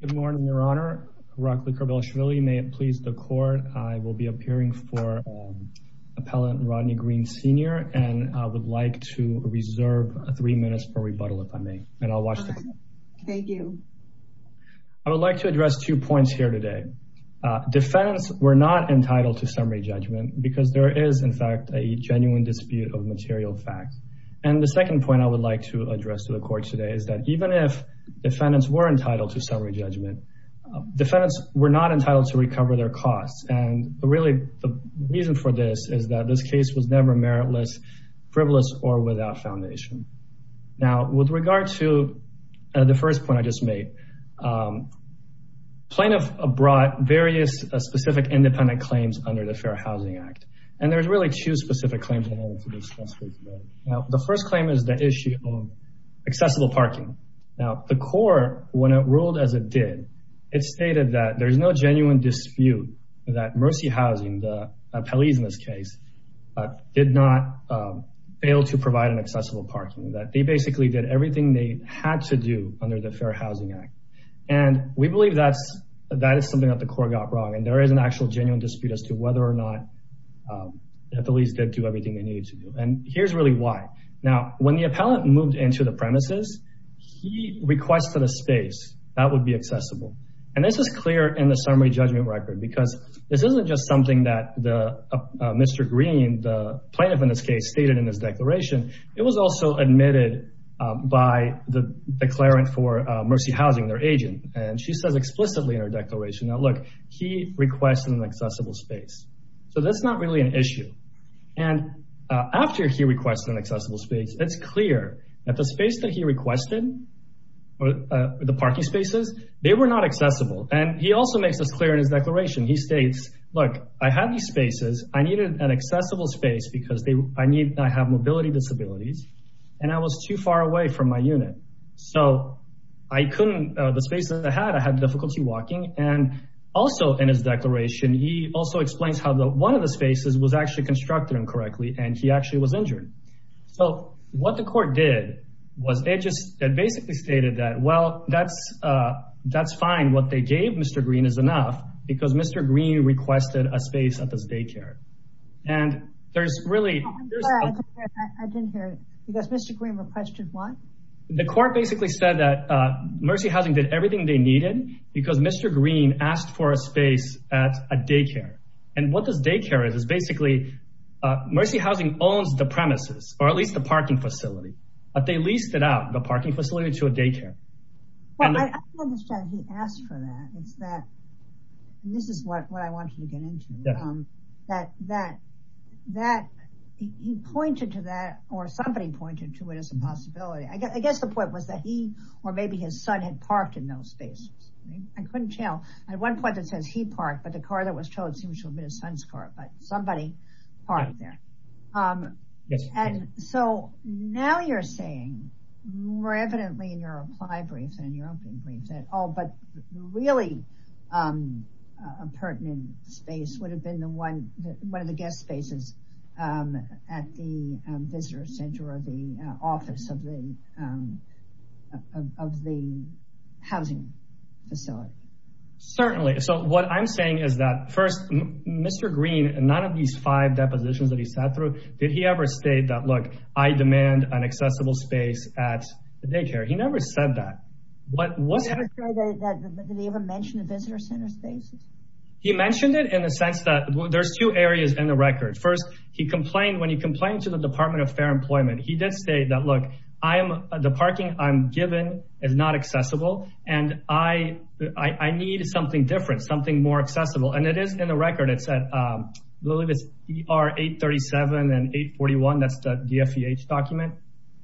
Good morning, Your Honor. Rockley Kerbel-Shvili. May it please the Court, I will be appearing for Appellant Rodney Green, Sr., and I would like to reserve three minutes for rebuttal, if I may, and I'll watch the court. Thank you. I would like to address two points here today. Defendants were not entitled to summary judgment because there is, in fact, a genuine dispute of material facts. And the second point I would like to address to the Court today is that even if defendants were entitled to summary judgment, defendants were not entitled to recover their costs. And really, the reason for this is that this case was never meritless, frivolous, or without foundation. Now, with regard to the first point I just made, plaintiff brought various specific independent claims under the Fair Housing Act. And there's really two specific claims that I want to discuss with you today. Now, the first claim is the issue of accessible parking. Now, the Court, when it ruled as it did, it stated that there's no genuine dispute that Mercy Housing, the appellees in this case, did not fail to provide an accessible parking, that they basically did everything they had to do under the Fair Housing Act. And we believe that is something that the Court got wrong, and there is an actual genuine dispute as to whether or not the appellees did do everything they needed to do. And here's really why. Now, when the appellant moved into the premises, he requested a space that would be accessible. And this is clear in the summary judgment record, because this isn't just something that Mr. Green, the plaintiff in this case, stated in his declaration. It was also admitted by the declarant for Mercy Housing, their agent. And she says explicitly in her declaration, now look, he requested an accessible space. So that's not really an issue. And after he requested an accessible space, it's clear that the space that he requested, the parking spaces, they were not accessible. And he also makes this clear in his declaration. He states, look, I had these spaces. I needed an accessible space because I have mobility disabilities, and I was too far away from my unit. So I couldn't, the space that I had, And also in his declaration, he also explains how one of the spaces was actually constructed incorrectly, and he actually was injured. So what the court did was it just basically stated that, well, that's fine. What they gave Mr. Green is enough because Mr. Green requested a space at this daycare. And there's really- I'm sorry, I didn't hear it. Because Mr. Green requested what? The court basically said that Mercy Housing did everything they needed because Mr. Green asked for a space at a daycare. And what this daycare is, is basically Mercy Housing owns the premises, or at least the parking facility, but they leased it out, the parking facility, to a daycare. Well, I understand he asked for that. It's that, and this is what I wanted to get into. He pointed to that, or somebody pointed to it as a possibility. I guess the point was that he, or maybe his son had parked in those spaces. I couldn't tell. At one point it says he parked, but the car that was towed seems to have been his son's car, but somebody parked there. And so now you're saying, more evidently in your reply brief than in your opening brief, that, oh, but really a pertinent space would have been the one, one of the guest spaces at the visitor center or the office of the housing facility. Certainly. So what I'm saying is that first, Mr. Green, none of these five depositions that he sat through, did he ever state that, look, I demand an accessible space at the daycare? He never said that. What was- Did he ever mention the visitor center spaces? He mentioned it in the sense that there's two areas in the record. First, he complained, when he complained to the Department of Fair Employment, he did say that, look, I am, the parking I'm given is not accessible. And I need something different, something more accessible. And it is in the record. It said, I believe it's ER 837 and 841. That's the DFVH document.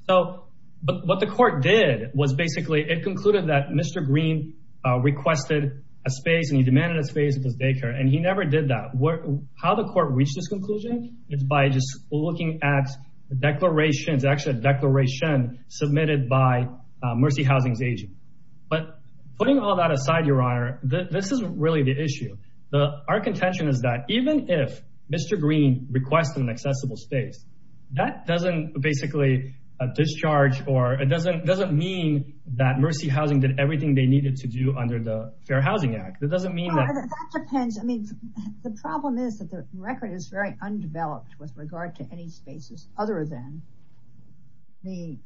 So, but what the court did was basically, it concluded that Mr. Green requested a space and he demanded a space at his daycare. And he never did that. How the court reached this conclusion is by just looking at the declarations, actually a declaration submitted by Mercy Housing's agent. But putting all that aside, Your Honor, this isn't really the issue. Our contention is that even if Mr. Green requested an accessible space, that doesn't basically discharge, or it doesn't mean that Mercy Housing did everything they needed to do under the Fair Housing Act. It doesn't mean that- That depends. I mean, the problem is that the record is very undeveloped with regard to any spaces other than the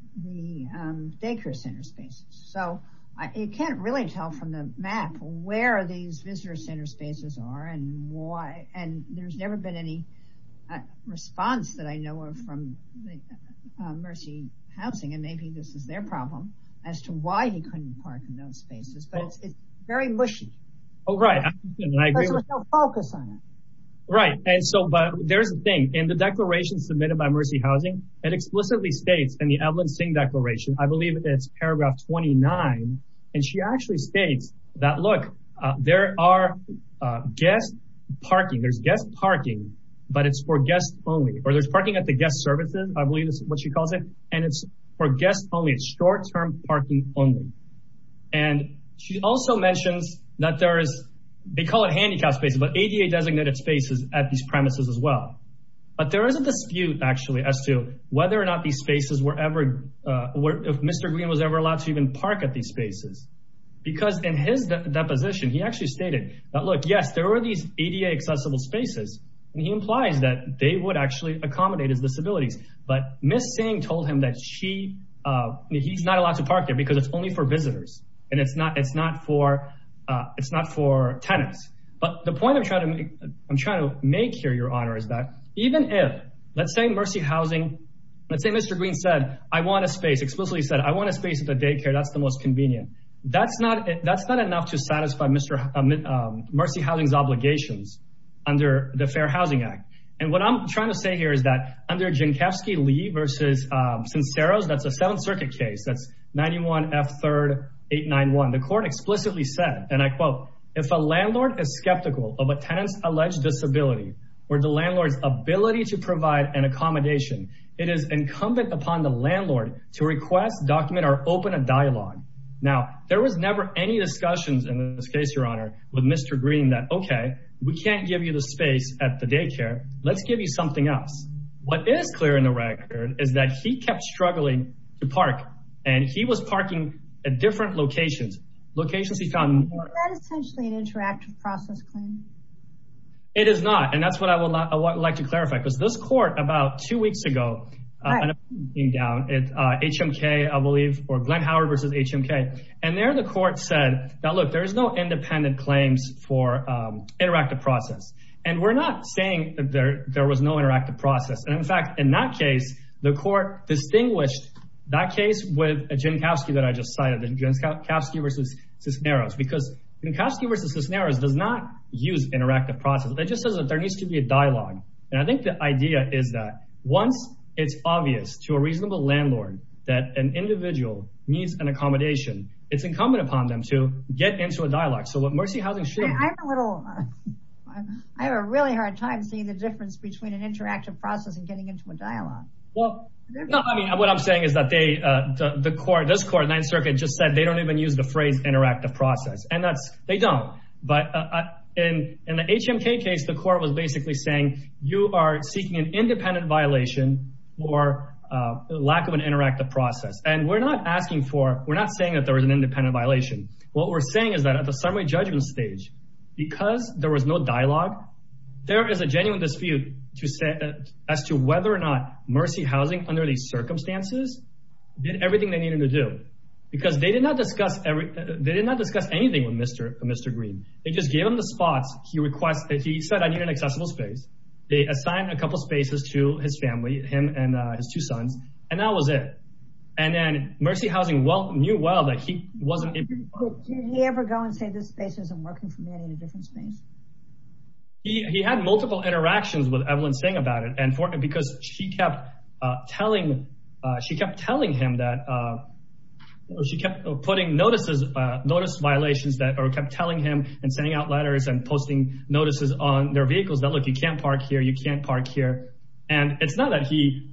daycare center spaces. So, you can't really tell from the map where these visitor center spaces are and why. And there's never been any response that I know of from Mercy Housing. And maybe this is their problem as to why he couldn't park in those spaces. But it's very mushy. Oh, right. And I agree with- Because there's no focus on it. Right. And so, but there's a thing. In the declaration submitted by Mercy Housing, it explicitly states in the Evelyn Singh declaration, I believe it's paragraph 29. And she actually states that, look, there are guest parking. There's guest parking, but it's for guests only. Or there's parking at the guest services, I believe is what she calls it. And it's for guests only. It's short-term parking only. And she also mentions that there is, they call it handicapped spaces, but ADA designated spaces at these premises as well. But there is a dispute actually as to whether or not these spaces were ever, if Mr. Green was ever allowed to even park at these spaces. Because in his deposition, he actually stated that, look, yes, there were these ADA accessible spaces. And he implies that they would actually accommodate his disabilities. But Ms. Singh told him that she, he's not allowed to park there because it's only for visitors. And it's not for tenants. But the point I'm trying to make here, Your Honor, is that even if, let's say Mercy Housing, let's say Mr. Green said, I want a space, explicitly said, I want a space at the daycare. That's the most convenient. That's not enough to satisfy Mercy Housing's obligations under the Fair Housing Act. And what I'm trying to say here is that under Jankowski-Lee versus Cinceros, that's a Seventh Circuit case. That's 91 F. 3rd 891. The court explicitly said, and I quote, if a landlord is skeptical of a tenant's alleged disability or the landlord's ability to provide an accommodation, it is incumbent upon the landlord to request, document, or open a dialogue. Now, there was never any discussions in this case, Your Honor, with Mr. Green that, okay, we can't give you the space at the daycare. Let's give you something else. What is clear in the record is that he kept struggling to park and he was parking at different locations, locations he found important. Is that essentially an interactive process claim? It is not. And that's what I would like to clarify because this court, about two weeks ago, an opinion came down, HMK, I believe, or Glenn Howard versus HMK. And there, the court said that, look, there is no independent claims for interactive process. And we're not saying that there was no interactive process. And in fact, in that case, the court distinguished that case with a Jankowski that I just cited, Jankowski versus Cisneros, because Jankowski versus Cisneros does not use interactive process. It just says that there needs to be a dialogue. And I think the idea is that once it's obvious to a reasonable landlord that an individual needs an accommodation, it's incumbent upon them to get into a dialogue. So what Mercy Housing should- I have a little, I have a really hard time seeing the difference between an interactive process and getting into a dialogue. Well, no, I mean, what I'm saying is that they, the court, this court, Ninth Circuit just said they don't even use the phrase interactive process. And that's, they don't. But in the HMK case, the court was basically saying you are seeking an independent violation or lack of an interactive process. And we're not asking for, we're not saying that there was an independent violation. What we're saying is that at the summary judgment stage, because there was no dialogue, there is a genuine dispute to say as to whether or not Mercy Housing under these circumstances did everything they needed to do. Because they did not discuss everything. They did not discuss anything with Mr. Green. They just gave him the spots. He requested, he said, I need an accessible space. They assigned a couple of spaces to his family, him and his two sons. And that was it. And then Mercy Housing knew well that he wasn't- Did he ever go and say, this space isn't working for me, I need a different space? He had multiple interactions with Evelyn saying about it. Because she kept telling him that, she kept putting notices, notice violations that kept telling him and sending out letters and posting notices on their vehicles that, look, you can't park here, you can't park here. And it's not that he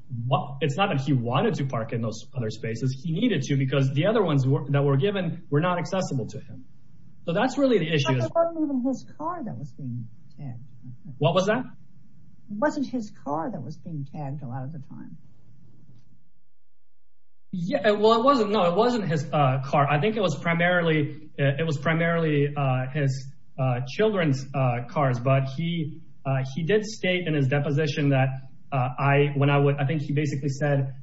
wanted to park in those other spaces. He needed to because the other ones that were given were not accessible to him. So that's really the issue. It wasn't even his car that was being- What was that? It wasn't his car that was being tagged a lot of the time. Yeah, well, it wasn't, no, it wasn't his car. I think it was primarily, it was primarily his children's cars, but he did state in his deposition that I, when I would, I think he basically said,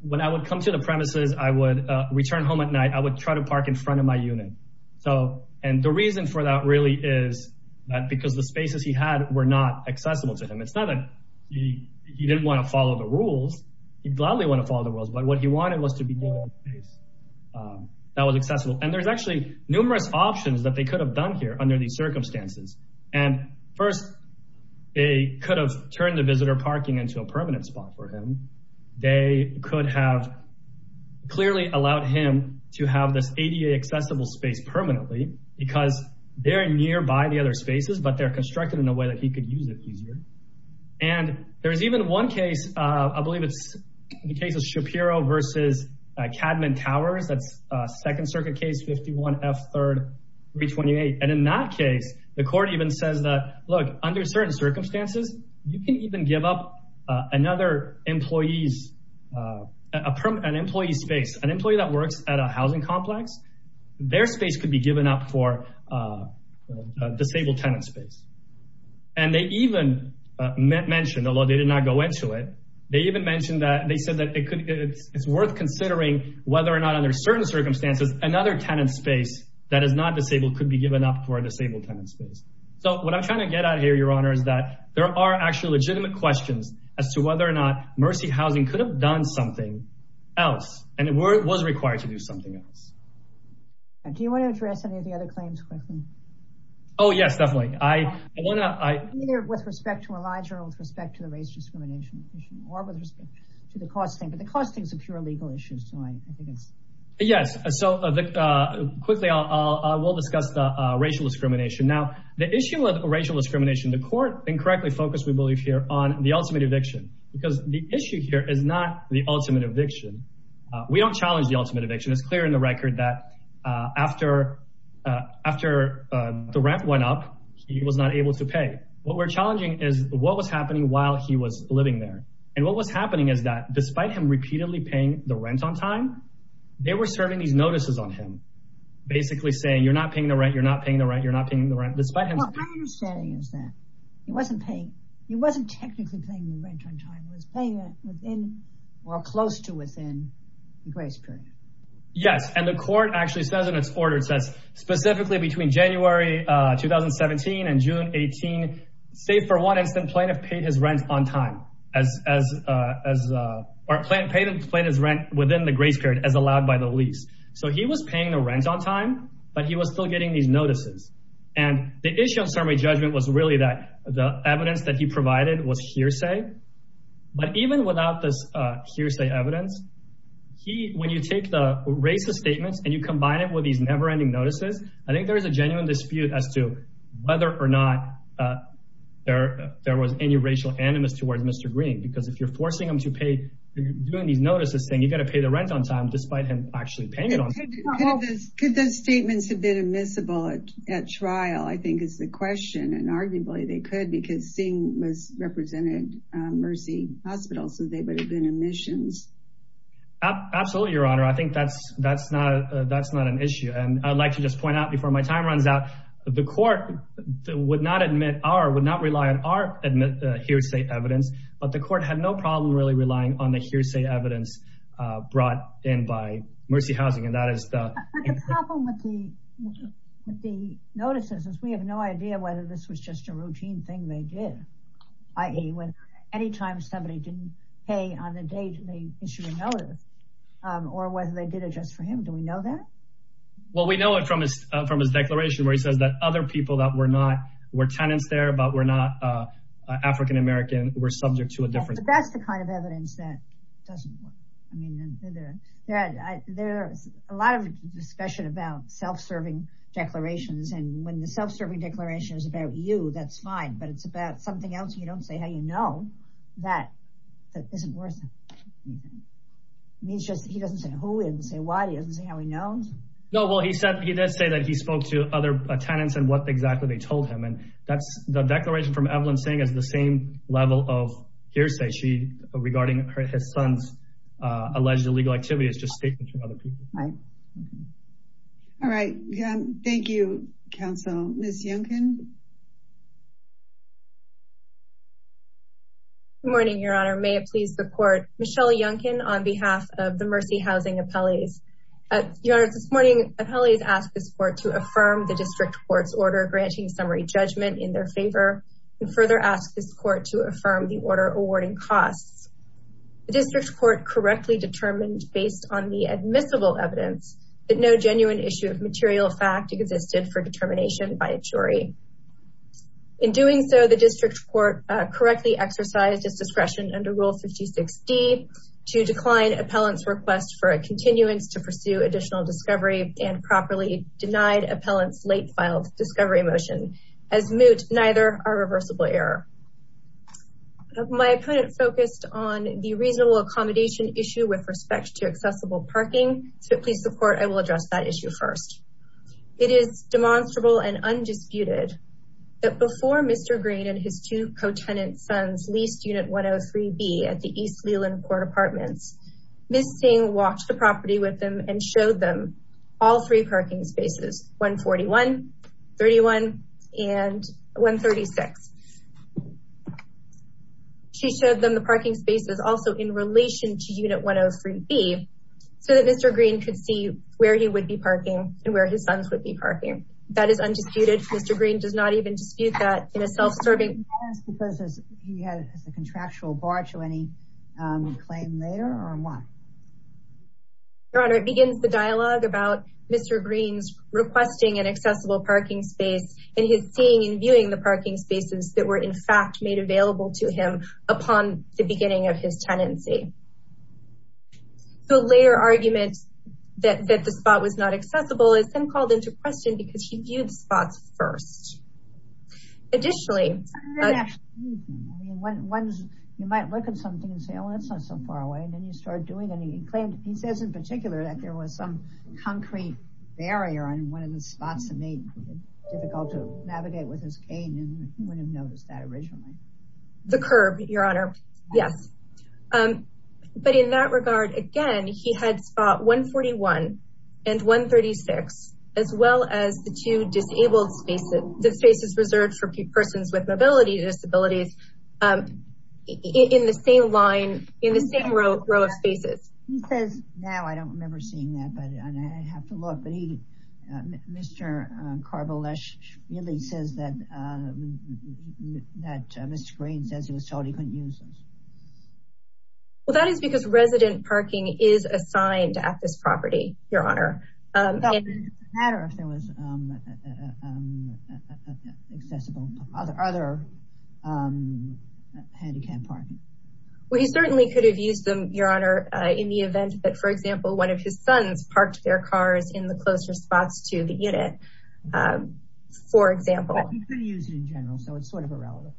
when I would come to the premises, I would return home at night, I would try to park in front of my unit. So, and the reason for that really is that because the spaces he had were not accessible to him. It's not that he didn't want to follow the rules. He'd gladly want to follow the rules, but what he wanted was to be given a space that was accessible. And there's actually numerous options that they could have done here under these circumstances. And first, they could have turned the visitor parking into a permanent spot for him. They could have clearly allowed him to have this ADA accessible space permanently because they're nearby the other spaces, but they're constructed in a way that he could use it easier. And there's even one case, I believe it's the case of Shapiro versus Cadman Towers. That's a second circuit case, 51 F third 328. And in that case, the court even says that, look, under certain circumstances, you can even give up another employee's, an employee's space, an employee that works at a housing complex, their space could be given up for a disabled tenant space. And they even mentioned, although they did not go into it, they even mentioned that, they said that it's worth considering whether or not under certain circumstances, another tenant space that is not disabled could be given up for a disabled tenant space. So what I'm trying to get out of here, your honor, is that there are actually legitimate questions as to whether or not Mercy Housing could have done something else, and it was required to do something else. And do you want to address any of the other claims quickly? Oh, yes, definitely. I want to, I- Either with respect to Elijah or with respect to the race discrimination issue or with respect to the cost thing, but the cost thing is a pure legal issue, so I think it's- Yes, so quickly, we'll discuss the racial discrimination. Now, the issue of racial discrimination, the court incorrectly focused, we believe here, on the ultimate eviction, because the issue here is not the ultimate eviction. We don't challenge the ultimate eviction. It's clear in the record that after the rent went up, he was not able to pay. What we're challenging is what was happening while he was living there, and what was happening is that despite him repeatedly paying the rent on time, they were serving these notices on him, basically saying, you're not paying the rent, you're not paying the rent, you're not paying the rent, despite him- Well, my understanding is that he wasn't paying, he wasn't paying the rent on time. He was paying it within, or close to within, the grace period. Yes, and the court actually says in its order, it says specifically between January 2017 and June 18, say for one instant, plaintiff paid his rent on time, as, or paid his rent within the grace period as allowed by the lease. So he was paying the rent on time, but he was still getting these notices, and the issue of summary judgment was really that the evidence that he provided was hearsay, but even without this hearsay evidence, when you take the racist statements and you combine it with these never-ending notices, I think there's a genuine dispute as to whether or not there was any racial animus towards Mr. Green, because if you're forcing him to pay, you're doing these notices saying, you gotta pay the rent on time, despite him actually paying it on time. Could those statements have been admissible at trial, I think is the question, and arguably they could, because Singh was representing Mercy Hospital, so they would have been omissions. Absolutely, Your Honor. I think that's not an issue, and I'd like to just point out before my time runs out, the court would not rely on our hearsay evidence, but the court had no problem really relying on the hearsay evidence brought in by Mercy Housing, and that is the- But the problem with the notices is we have no idea whether this was just a routine thing they did, i.e., any time somebody didn't pay on a date, they issued a notice, or whether they did it just for him. Do we know that? Well, we know it from his declaration, where he says that other people that were not, were tenants there, but were not African-American, were subject to a different- But that's the kind of evidence that doesn't work. I mean, there's a lot of discussion about self-serving declarations, and when the self-serving declaration is about you, that's fine, but it's about something else you don't say how you know, that isn't worth anything. I mean, he doesn't say who, he doesn't say why, he doesn't say how he knows. No, well, he did say that he spoke to other tenants and what exactly they told him, and that's the declaration from Evelyn saying is the same level of hearsay. She, regarding his son's alleged illegal activity is just statements from other people. Right. All right, thank you, counsel. Ms. Yunkin. Good morning, Your Honor. May it please the court. Michelle Yunkin on behalf of the Mercy Housing Appellees. Your Honor, this morning, appellees asked this court to affirm the district court's order granting summary judgment in their favor, and further asked this court to affirm the order awarding costs. The district court correctly determined based on the admissible evidence that no genuine issue of material fact existed for determination by a jury. In doing so, the district court correctly exercised its discretion under Rule 56D to decline appellant's request for a continuance to pursue additional discovery and properly denied appellant's late filed discovery motion as moot, neither are reversible error. My opponent focused on the reasonable accommodation issue with respect to accessible parking. So if it please the court, I will address that issue first. It is demonstrable and undisputed that before Mr. Green and his two co-tenant sons leased unit 103B at the East Leland Court Apartments, Ms. Singh walked the property with them and showed them all three parking spaces, 141, 31, and 136. She showed them the parking spaces also in relation to unit 103B so that Mr. Green could see where he would be parking and where his sons would be parking. That is undisputed. Mr. Green does not even dispute that in a self-serving. Because he has a contractual barge or any claim there or what? Your Honor, it begins the dialogue about Mr. Green's requesting an accessible parking space and his seeing and viewing the parking spaces that were in fact made available to him upon the beginning of his tenancy. The later argument that the spot was not accessible is then called into question because he viewed spots first. Additionally- I didn't actually see anything. You might look at something and say, oh, that's not so far away. And then you start doing and he claimed, he says in particular that there was some concrete barrier on one of the spots that made it difficult to navigate with his cane and he wouldn't have noticed that originally. The curb, Your Honor. Yes. But in that regard, again, he had spot 141 and 136 as well as the two disabled spaces, the spaces reserved for persons with mobility disabilities in the same line, in the same row of spaces. He says, now I don't remember seeing that, but I have to look. But he, Mr. Karbalesh really says that Mr. Green says he was told he couldn't use those. Well, that is because resident parking is assigned at this property, Your Honor. It doesn't matter if there was accessible, other handicapped parking. Well, he certainly could have used them, Your Honor, in the event that, for example, one of his sons parked their cars in the closer spots to the unit. For example. But he couldn't use it in general, so it's sort of irrelevant.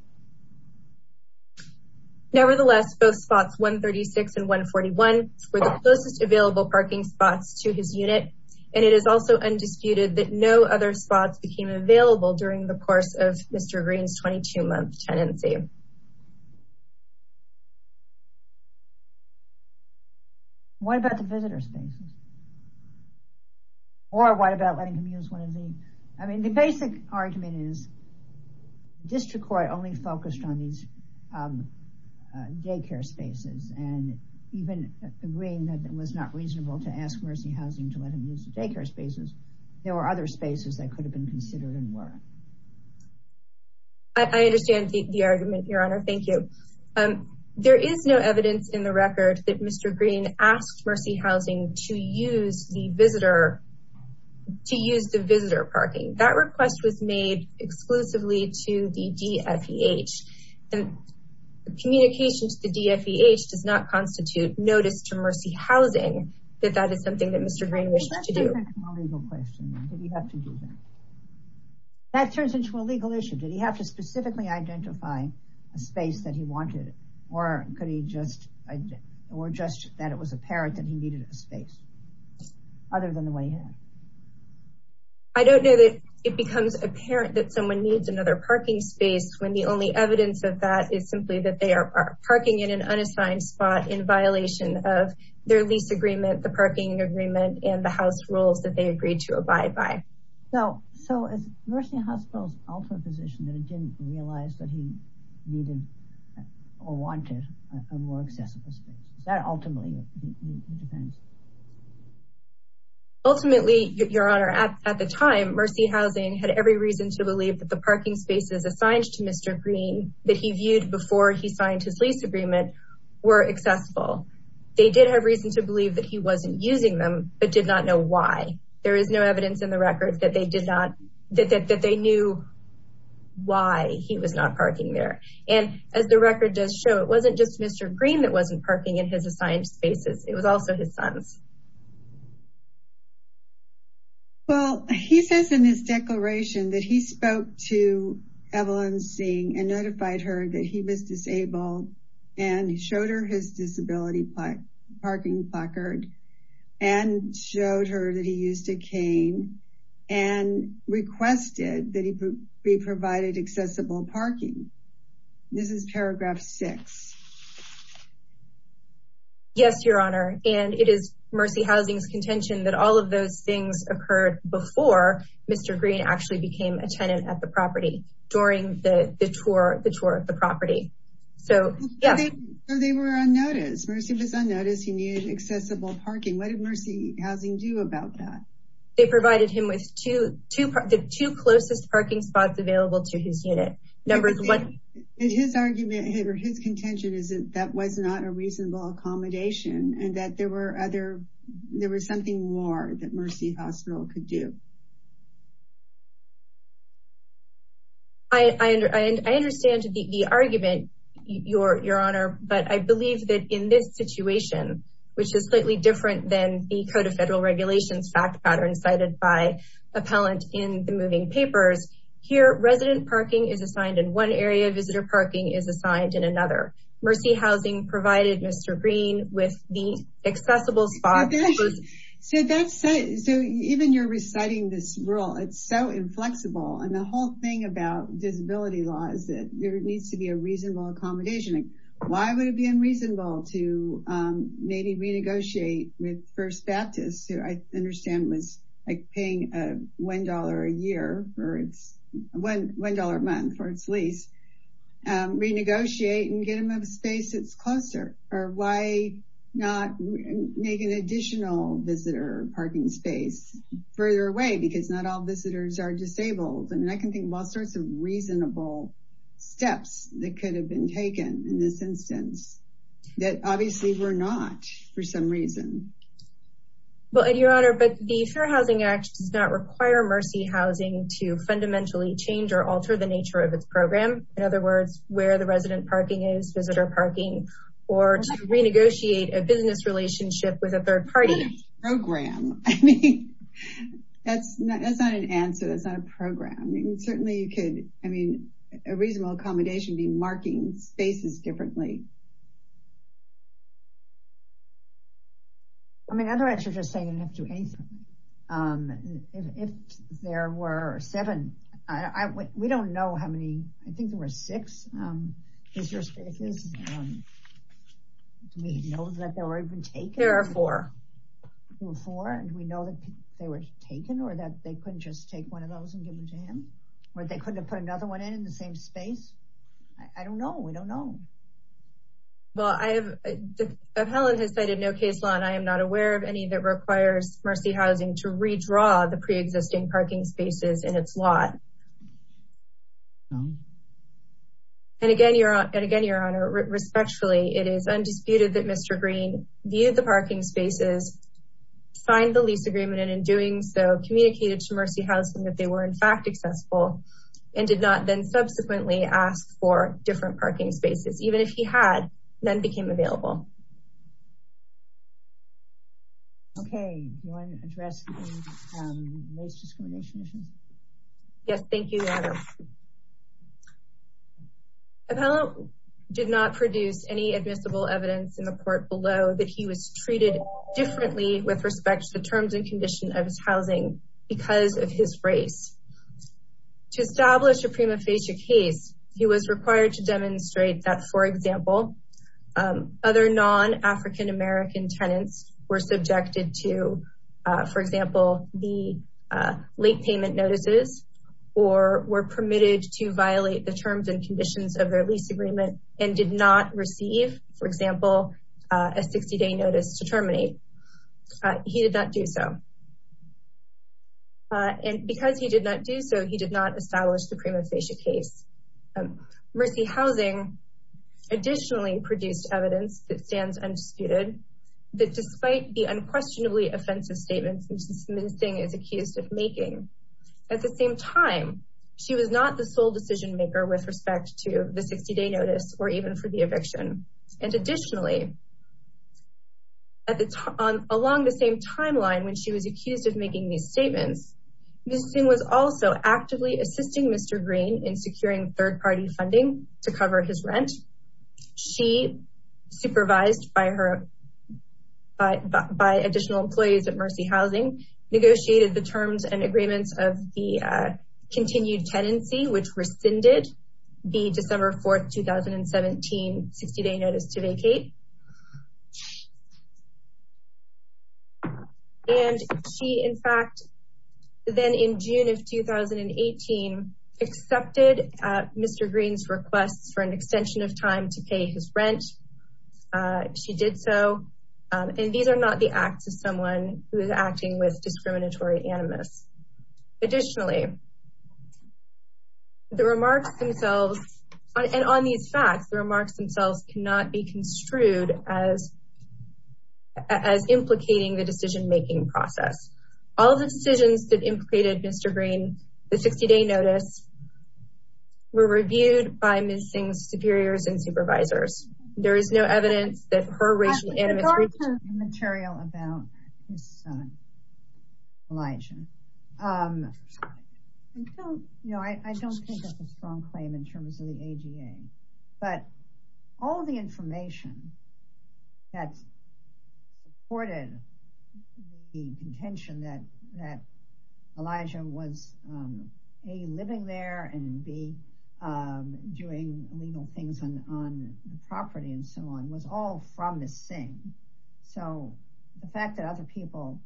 Nevertheless, both spots 136 and 141 were the closest available parking spots to his unit. And it is also undisputed that no other spots became available during the course of Mr. Green's 22-month tenancy. What about the visitor spaces? Or what about letting him use one of the, I mean, the basic argument is, the district court only focused on these daycare spaces. And even agreeing that it was not reasonable to ask Mercy Housing to let him use the daycare spaces, there were other spaces that could have been considered and were. I understand the argument, Your Honor. Thank you. There is no evidence in the record that Mr. Green asked Mercy Housing to use the visitor parking. That request was made exclusively to the DFEH. The communication to the DFEH does not constitute notice to Mercy Housing that that is something that Mr. Green wishes to do. That turns into a legal question. Did he have to do that? That turns into a legal issue. Did he have to specifically identify a space that he wanted? Or could he just, or just that it was apparent that he needed a space other than the one he had? I don't know that it becomes apparent that someone needs another parking space when the only evidence of that is simply that they are parking in an unassigned spot in violation of their lease agreement, the parking agreement, and the house rules that they agreed to abide by. No, so is Mercy Hospital's ultimate position that it didn't realize that he needed or wanted a more accessible space? Is that ultimately the defense? Ultimately, Your Honor, at the time, Mercy Housing had every reason to believe that the parking spaces assigned to Mr. Green that he viewed before he signed his lease agreement were accessible. They did have reason to believe that he wasn't using them, but did not know why. There is no evidence in the records that they knew why he was not parking there. And as the record does show, it wasn't just Mr. Green that wasn't parking in his assigned spaces. It was also his sons. Well, he says in his declaration that he spoke to Evelyn Singh and notified her that he was disabled and showed her his disability parking placard and showed her that he used a cane and requested that he be provided accessible parking. This is paragraph six. Yes, Your Honor. And it is Mercy Housing's contention that all of those things occurred before Mr. Green actually became a tenant at the property during the tour of the property. So, yeah. So they were unnoticed. Mercy was unnoticed. He needed accessible parking. What did Mercy Housing do about that? They provided him with the two closest parking spots available to his unit. And his argument or his contention is that that was not a reasonable accommodation and that there was something more that Mercy Hospital could do. I understand the argument, Your Honor, but I believe that in this situation, which is slightly different than the Code of Federal Regulations fact pattern cited by appellant in the moving papers, here, resident parking is assigned in one area, visitor parking is assigned in another. Mercy Housing provided Mr. Green with the accessible spot. So that's, so even you're reciting this rule, it's so inflexible. And the whole thing about disability law is that there needs to be a reasonable accommodation. Why would it be unreasonable to maybe renegotiate with First Baptist who I understand was paying $1 a year or it's $1 a month for its lease, renegotiate and get him a space that's closer? Or why not make an additional visitor parking space further away because not all visitors are disabled. And I can think of all sorts of reasonable steps that could have been taken in this instance that obviously were not for some reason. Well, your honor, but the Fair Housing Act does not require Mercy Housing to fundamentally change or alter the nature of its program. In other words, where the resident parking is, visitor parking or to renegotiate a business relationship with a third party. Program, I mean, that's not an answer. That's not a program. Certainly you could, I mean, a reasonable accommodation be marking spaces differently. I mean, otherwise you're just saying you have to do anything if there were seven, we don't know how many, I think there were six visitor spaces. Do we know that they were even taken? There are four. There were four and we know that they were taken or that they couldn't just take one of those and give them to him? Or they couldn't have put another one in the same space? I don't know, we don't know. Well, I have, the appellate has cited no case law and I am not aware of any that requires Mercy Housing to redraw the preexisting parking spaces in its lot. And again, your honor, respectfully, it is undisputed that Mr. Green viewed the parking spaces, signed the lease agreement and in doing so, communicated to Mercy Housing that they were in fact accessible and did not then subsequently ask for different parking spaces. Even if he had, none became available. Okay, do you want to address the most discrimination issues? Yes, thank you, your honor. Appellant did not produce any admissible evidence in the court below that he was treated differently with respect to the terms and condition of his housing because of his race. To establish a prima facie case, he was required to demonstrate that, for example, other non-African American tenants were subjected to, for example, the late payment notices or were permitted to violate the terms and conditions of their lease agreement and did not receive, for example, a 60 day notice to terminate. He did not do so. And because he did not do so, he did not establish the prima facie case. Mercy Housing additionally produced evidence that stands undisputed, that despite the unquestionably offensive statements that Ms. Singh is accused of making, at the same time, she was not the sole decision maker with respect to the 60 day notice or even for the eviction. And additionally, along the same timeline when she was accused of making these statements, Ms. Singh was also actively assisting Mr. Green in securing third party funding to cover his rent. She, supervised by additional employees at Mercy Housing, negotiated the terms and agreements of the continued tenancy, which rescinded the December 4th, 2017, 60 day notice to vacate. And she, in fact, then in June of 2018, accepted Mr. Green's requests for an extension of time to pay his rent. She did so. And these are not the acts of someone who is acting with discriminatory animus. Additionally, the remarks themselves and on these facts, the remarks themselves cannot be construed as implicating the decision making process. All of the decisions that implicated Mr. Green, the 60 day notice, were reviewed by Ms. Singh's superiors and supervisors. There is no evidence that her racial animus- Regarding the material about his son, Elijah. You know, I don't think that's a strong claim in terms of the AGA, but all the information that supported the contention that Elijah was A, living there, and B, doing illegal things on the property and so on, was all from Ms. Singh. So the fact that other people,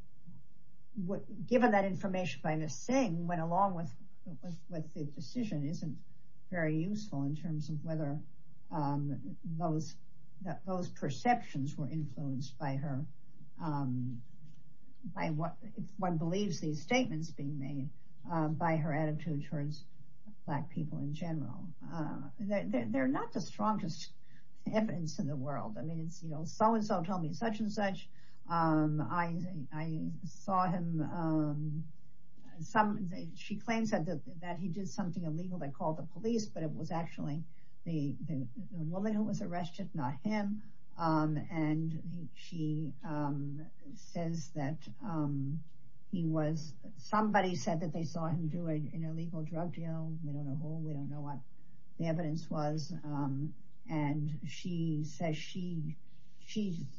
given that information by Ms. Singh, went along with the decision isn't very useful in terms of whether those perceptions were influenced by her, by what one believes these statements being made by her attitude towards black people in general. They're not the strongest evidence in the world. I mean, it's, you know, so-and-so told me such and such. I saw him, she claims that he did something illegal that called the police, but it was actually the woman who was arrested, not him. And she says that he was, somebody said that they saw him do an illegal drug deal. We don't know who, we don't know what the evidence was. And she says she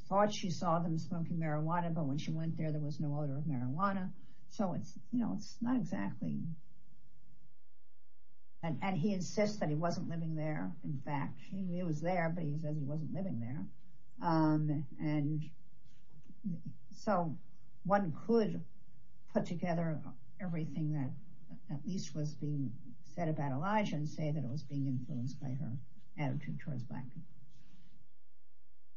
thought she saw them smoking marijuana, but when she went there, there was no odor of marijuana. So it's, you know, it's not exactly, and he insists that he wasn't living there. In fact, he knew he was there, but he said he wasn't living there. And so one could put together everything that at least was being said about Elijah and say that it was being influenced by her attitude towards black people.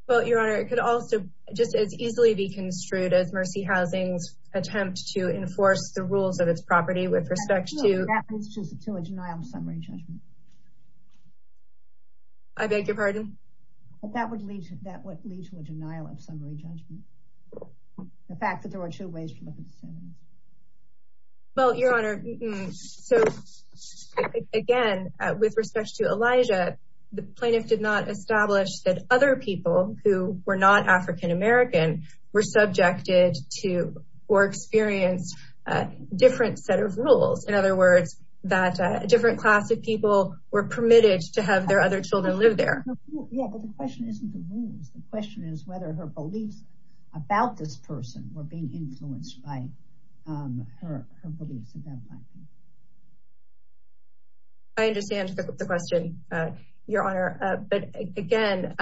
Well, Your Honor, it could also just as easily be construed as Mercy Housing's attempt to enforce the rules of its property with respect to- That was just a two-edged knife on summary judgment. I beg your pardon? That would lead to a denial of summary judgment. The fact that there are two ways to look at the same thing. Well, Your Honor, so again, with respect to Elijah, the plaintiff did not establish that other people who were not African-American were subjected to or experienced a different set of rules. In other words, that a different class of people were permitted to have their other children live there. Yeah, but the question isn't the rules. The question is whether her beliefs about this person were being influenced by her beliefs about black people. I understand the question, Your Honor. But again,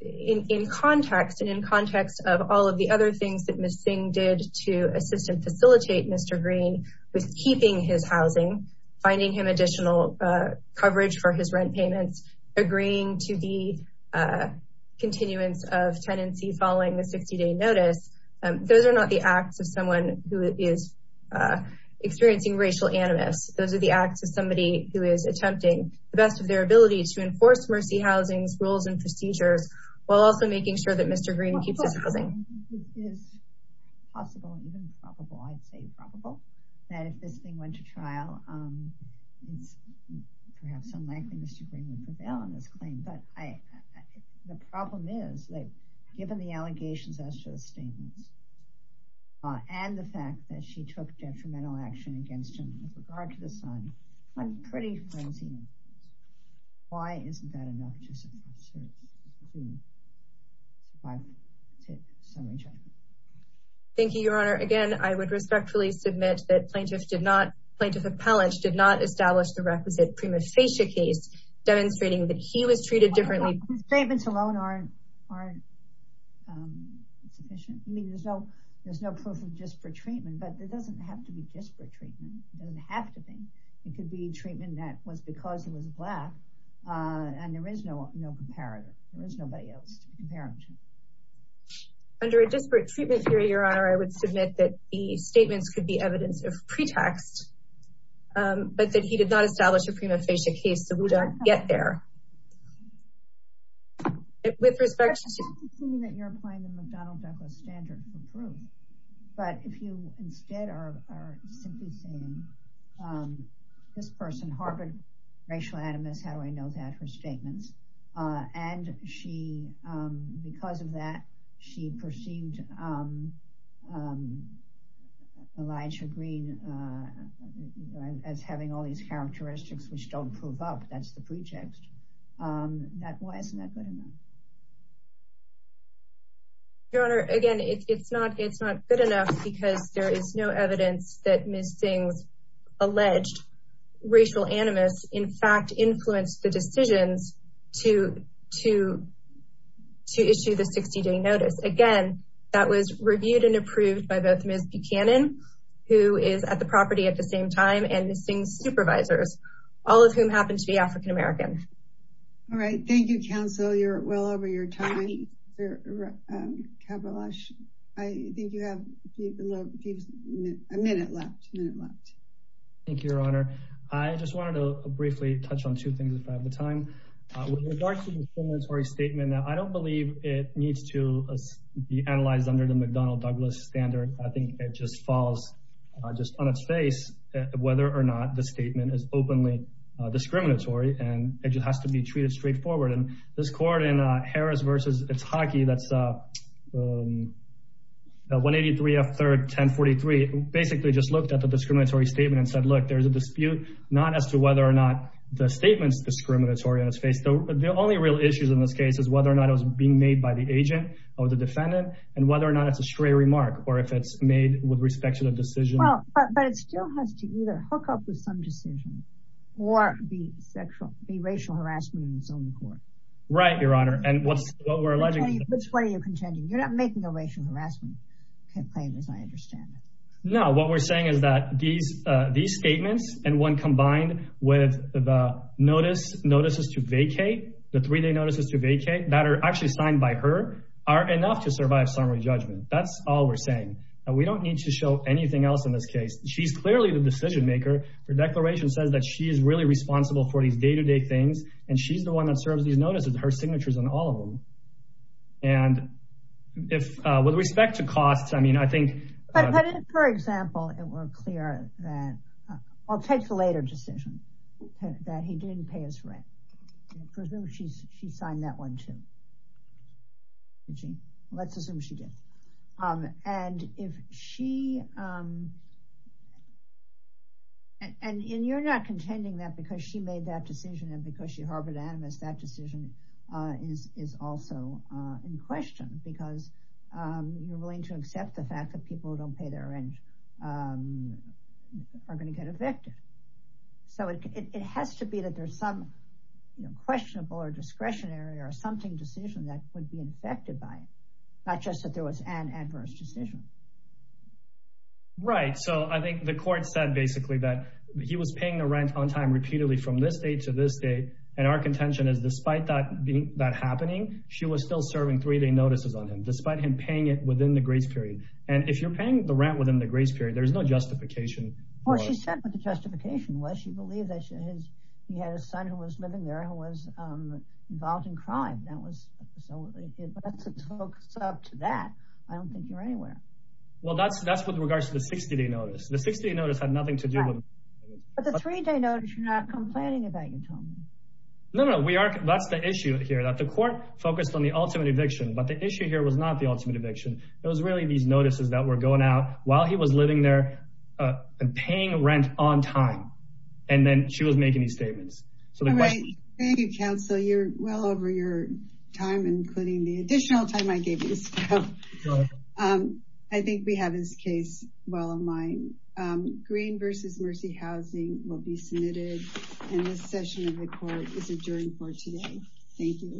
in context and in context of all of the other things that Ms. Singh did to assist and facilitate Mr. Green with keeping his housing, finding him additional coverage for his rent payments, agreeing to the continuance of tenancy following the 60-day notice, those are not the acts of someone who is experiencing racial animus. Those are the acts of somebody who is attempting the best of their ability to enforce Mercy Housing's rules and procedures while also making sure that Mr. Green keeps his housing. It is possible, even probable, I'd say probable, that if Ms. Singh went to trial, it's perhaps unlikely Mr. Green would prevail on this claim. But the problem is that given the allegations as to the statements and the fact that she took detrimental action against him with regard to the son, I'm pretty frenzied. Why isn't that enough to support her to be able to send her child home? Thank you, Your Honor. Again, I would respectfully submit that Plaintiff Appellant did not establish the requisite prima facie case demonstrating that he was treated differently. Statements alone aren't sufficient. I mean, there's no proof of disparate treatment, but it doesn't have to be disparate treatment. It doesn't have to be. It could be treatment that was because he was black, and there is no comparison. There is nobody else to compare him to. Under a disparate treatment theory, Your Honor, I would submit that the statements could be evidence of pretext, but that he did not establish a prima facie case so we don't get there. With respect to- I'm not conceding that you're applying the McDonnell-Beckler standard for proof, but if you instead are simply saying this person, Harvard racial animus, how do I know that her statements? And she, because of that, she perceived Elijah Green as having all these characteristics which don't prove up. That's the pretext. That, why isn't that good enough? Your Honor, again, it's not good enough because there is no evidence that Ms. Singh's alleged racial animus, in fact, influenced the decisions to issue the 60-day notice. Again, that was reviewed and approved by both Ms. Buchanan, who is at the property at the same time, and Ms. Singh's supervisors, all of whom happen to be African-American. All right, thank you, counsel. You're well over your time. Kabbalash, I think you have a minute left, a minute left. Thank you, Your Honor. I just wanted to briefly touch on two things if I have the time. With regards to the discriminatory statement, and I don't believe it needs to be analyzed under the McDonnell-Douglas standard. I think it just falls just on its face whether or not the statement is openly discriminatory, and it just has to be treated straightforward. And this court in Harris v. Itaki, that's 183 F. 3rd, 1043, basically just looked at the discriminatory statement and said, look, there's a dispute, not as to whether or not the statement's discriminatory on its face. The only real issues in this case is whether or not it was being made by the agent or the defendant, and whether or not it's a stray remark, or if it's made with respect to the decision. But it still has to either hook up with some decision or be sexual, be racial harassment in its own court. Right, Your Honor, and what we're alleging- Which way are you contending? You're not making a racial harassment complaint, as I understand it. No, what we're saying is that these statements and one combined with the notice, notices to vacate, the three-day notices to vacate that are actually signed by her are enough to survive summary judgment. That's all we're saying. And we don't need to show anything else in this case. She's clearly the decision maker. Her declaration says that she is really responsible for these day-to-day things, and she's the one that serves these notices, her signature's on all of them. And with respect to costs, I mean, I think- But if, for example, it were clear that, I'll take the later decision, that he didn't pay his rent, I presume she signed that one, too. Let's assume she did. And if she, and you're not contending that because she made that decision and because she harbored animus, that decision is also in question because you're willing to accept the fact that people who don't pay their rent are gonna get evicted. So it has to be that there's some questionable or discretionary or something decision that would be infected by it, not just that there was an adverse decision. Right, so I think the court said basically that he was paying the rent on time repeatedly from this date to this date, and our contention is despite that happening, she was still serving three-day notices on him, despite him paying it within the grace period. And if you're paying the rent within the grace period, there's no justification for- She said what the justification was. She believed that he had a son who was living there who was involved in crime. That was what they did, but that's a close-up to that. I don't think you're anywhere. Well, that's with regards to the 60-day notice. The 60-day notice had nothing to do with- But the three-day notice, you're not complaining about, you told me. No, no, that's the issue here, that the court focused on the ultimate eviction, but the issue here was not the ultimate eviction. It was really these notices that were going out while he was living there and paying rent on time, and then she was making these statements. So the question- Thank you, counsel. You're well over your time, including the additional time I gave you. I think we have this case well in mind. Green versus Mercy Housing will be submitted, and this session of the court is adjourned for today. Thank you.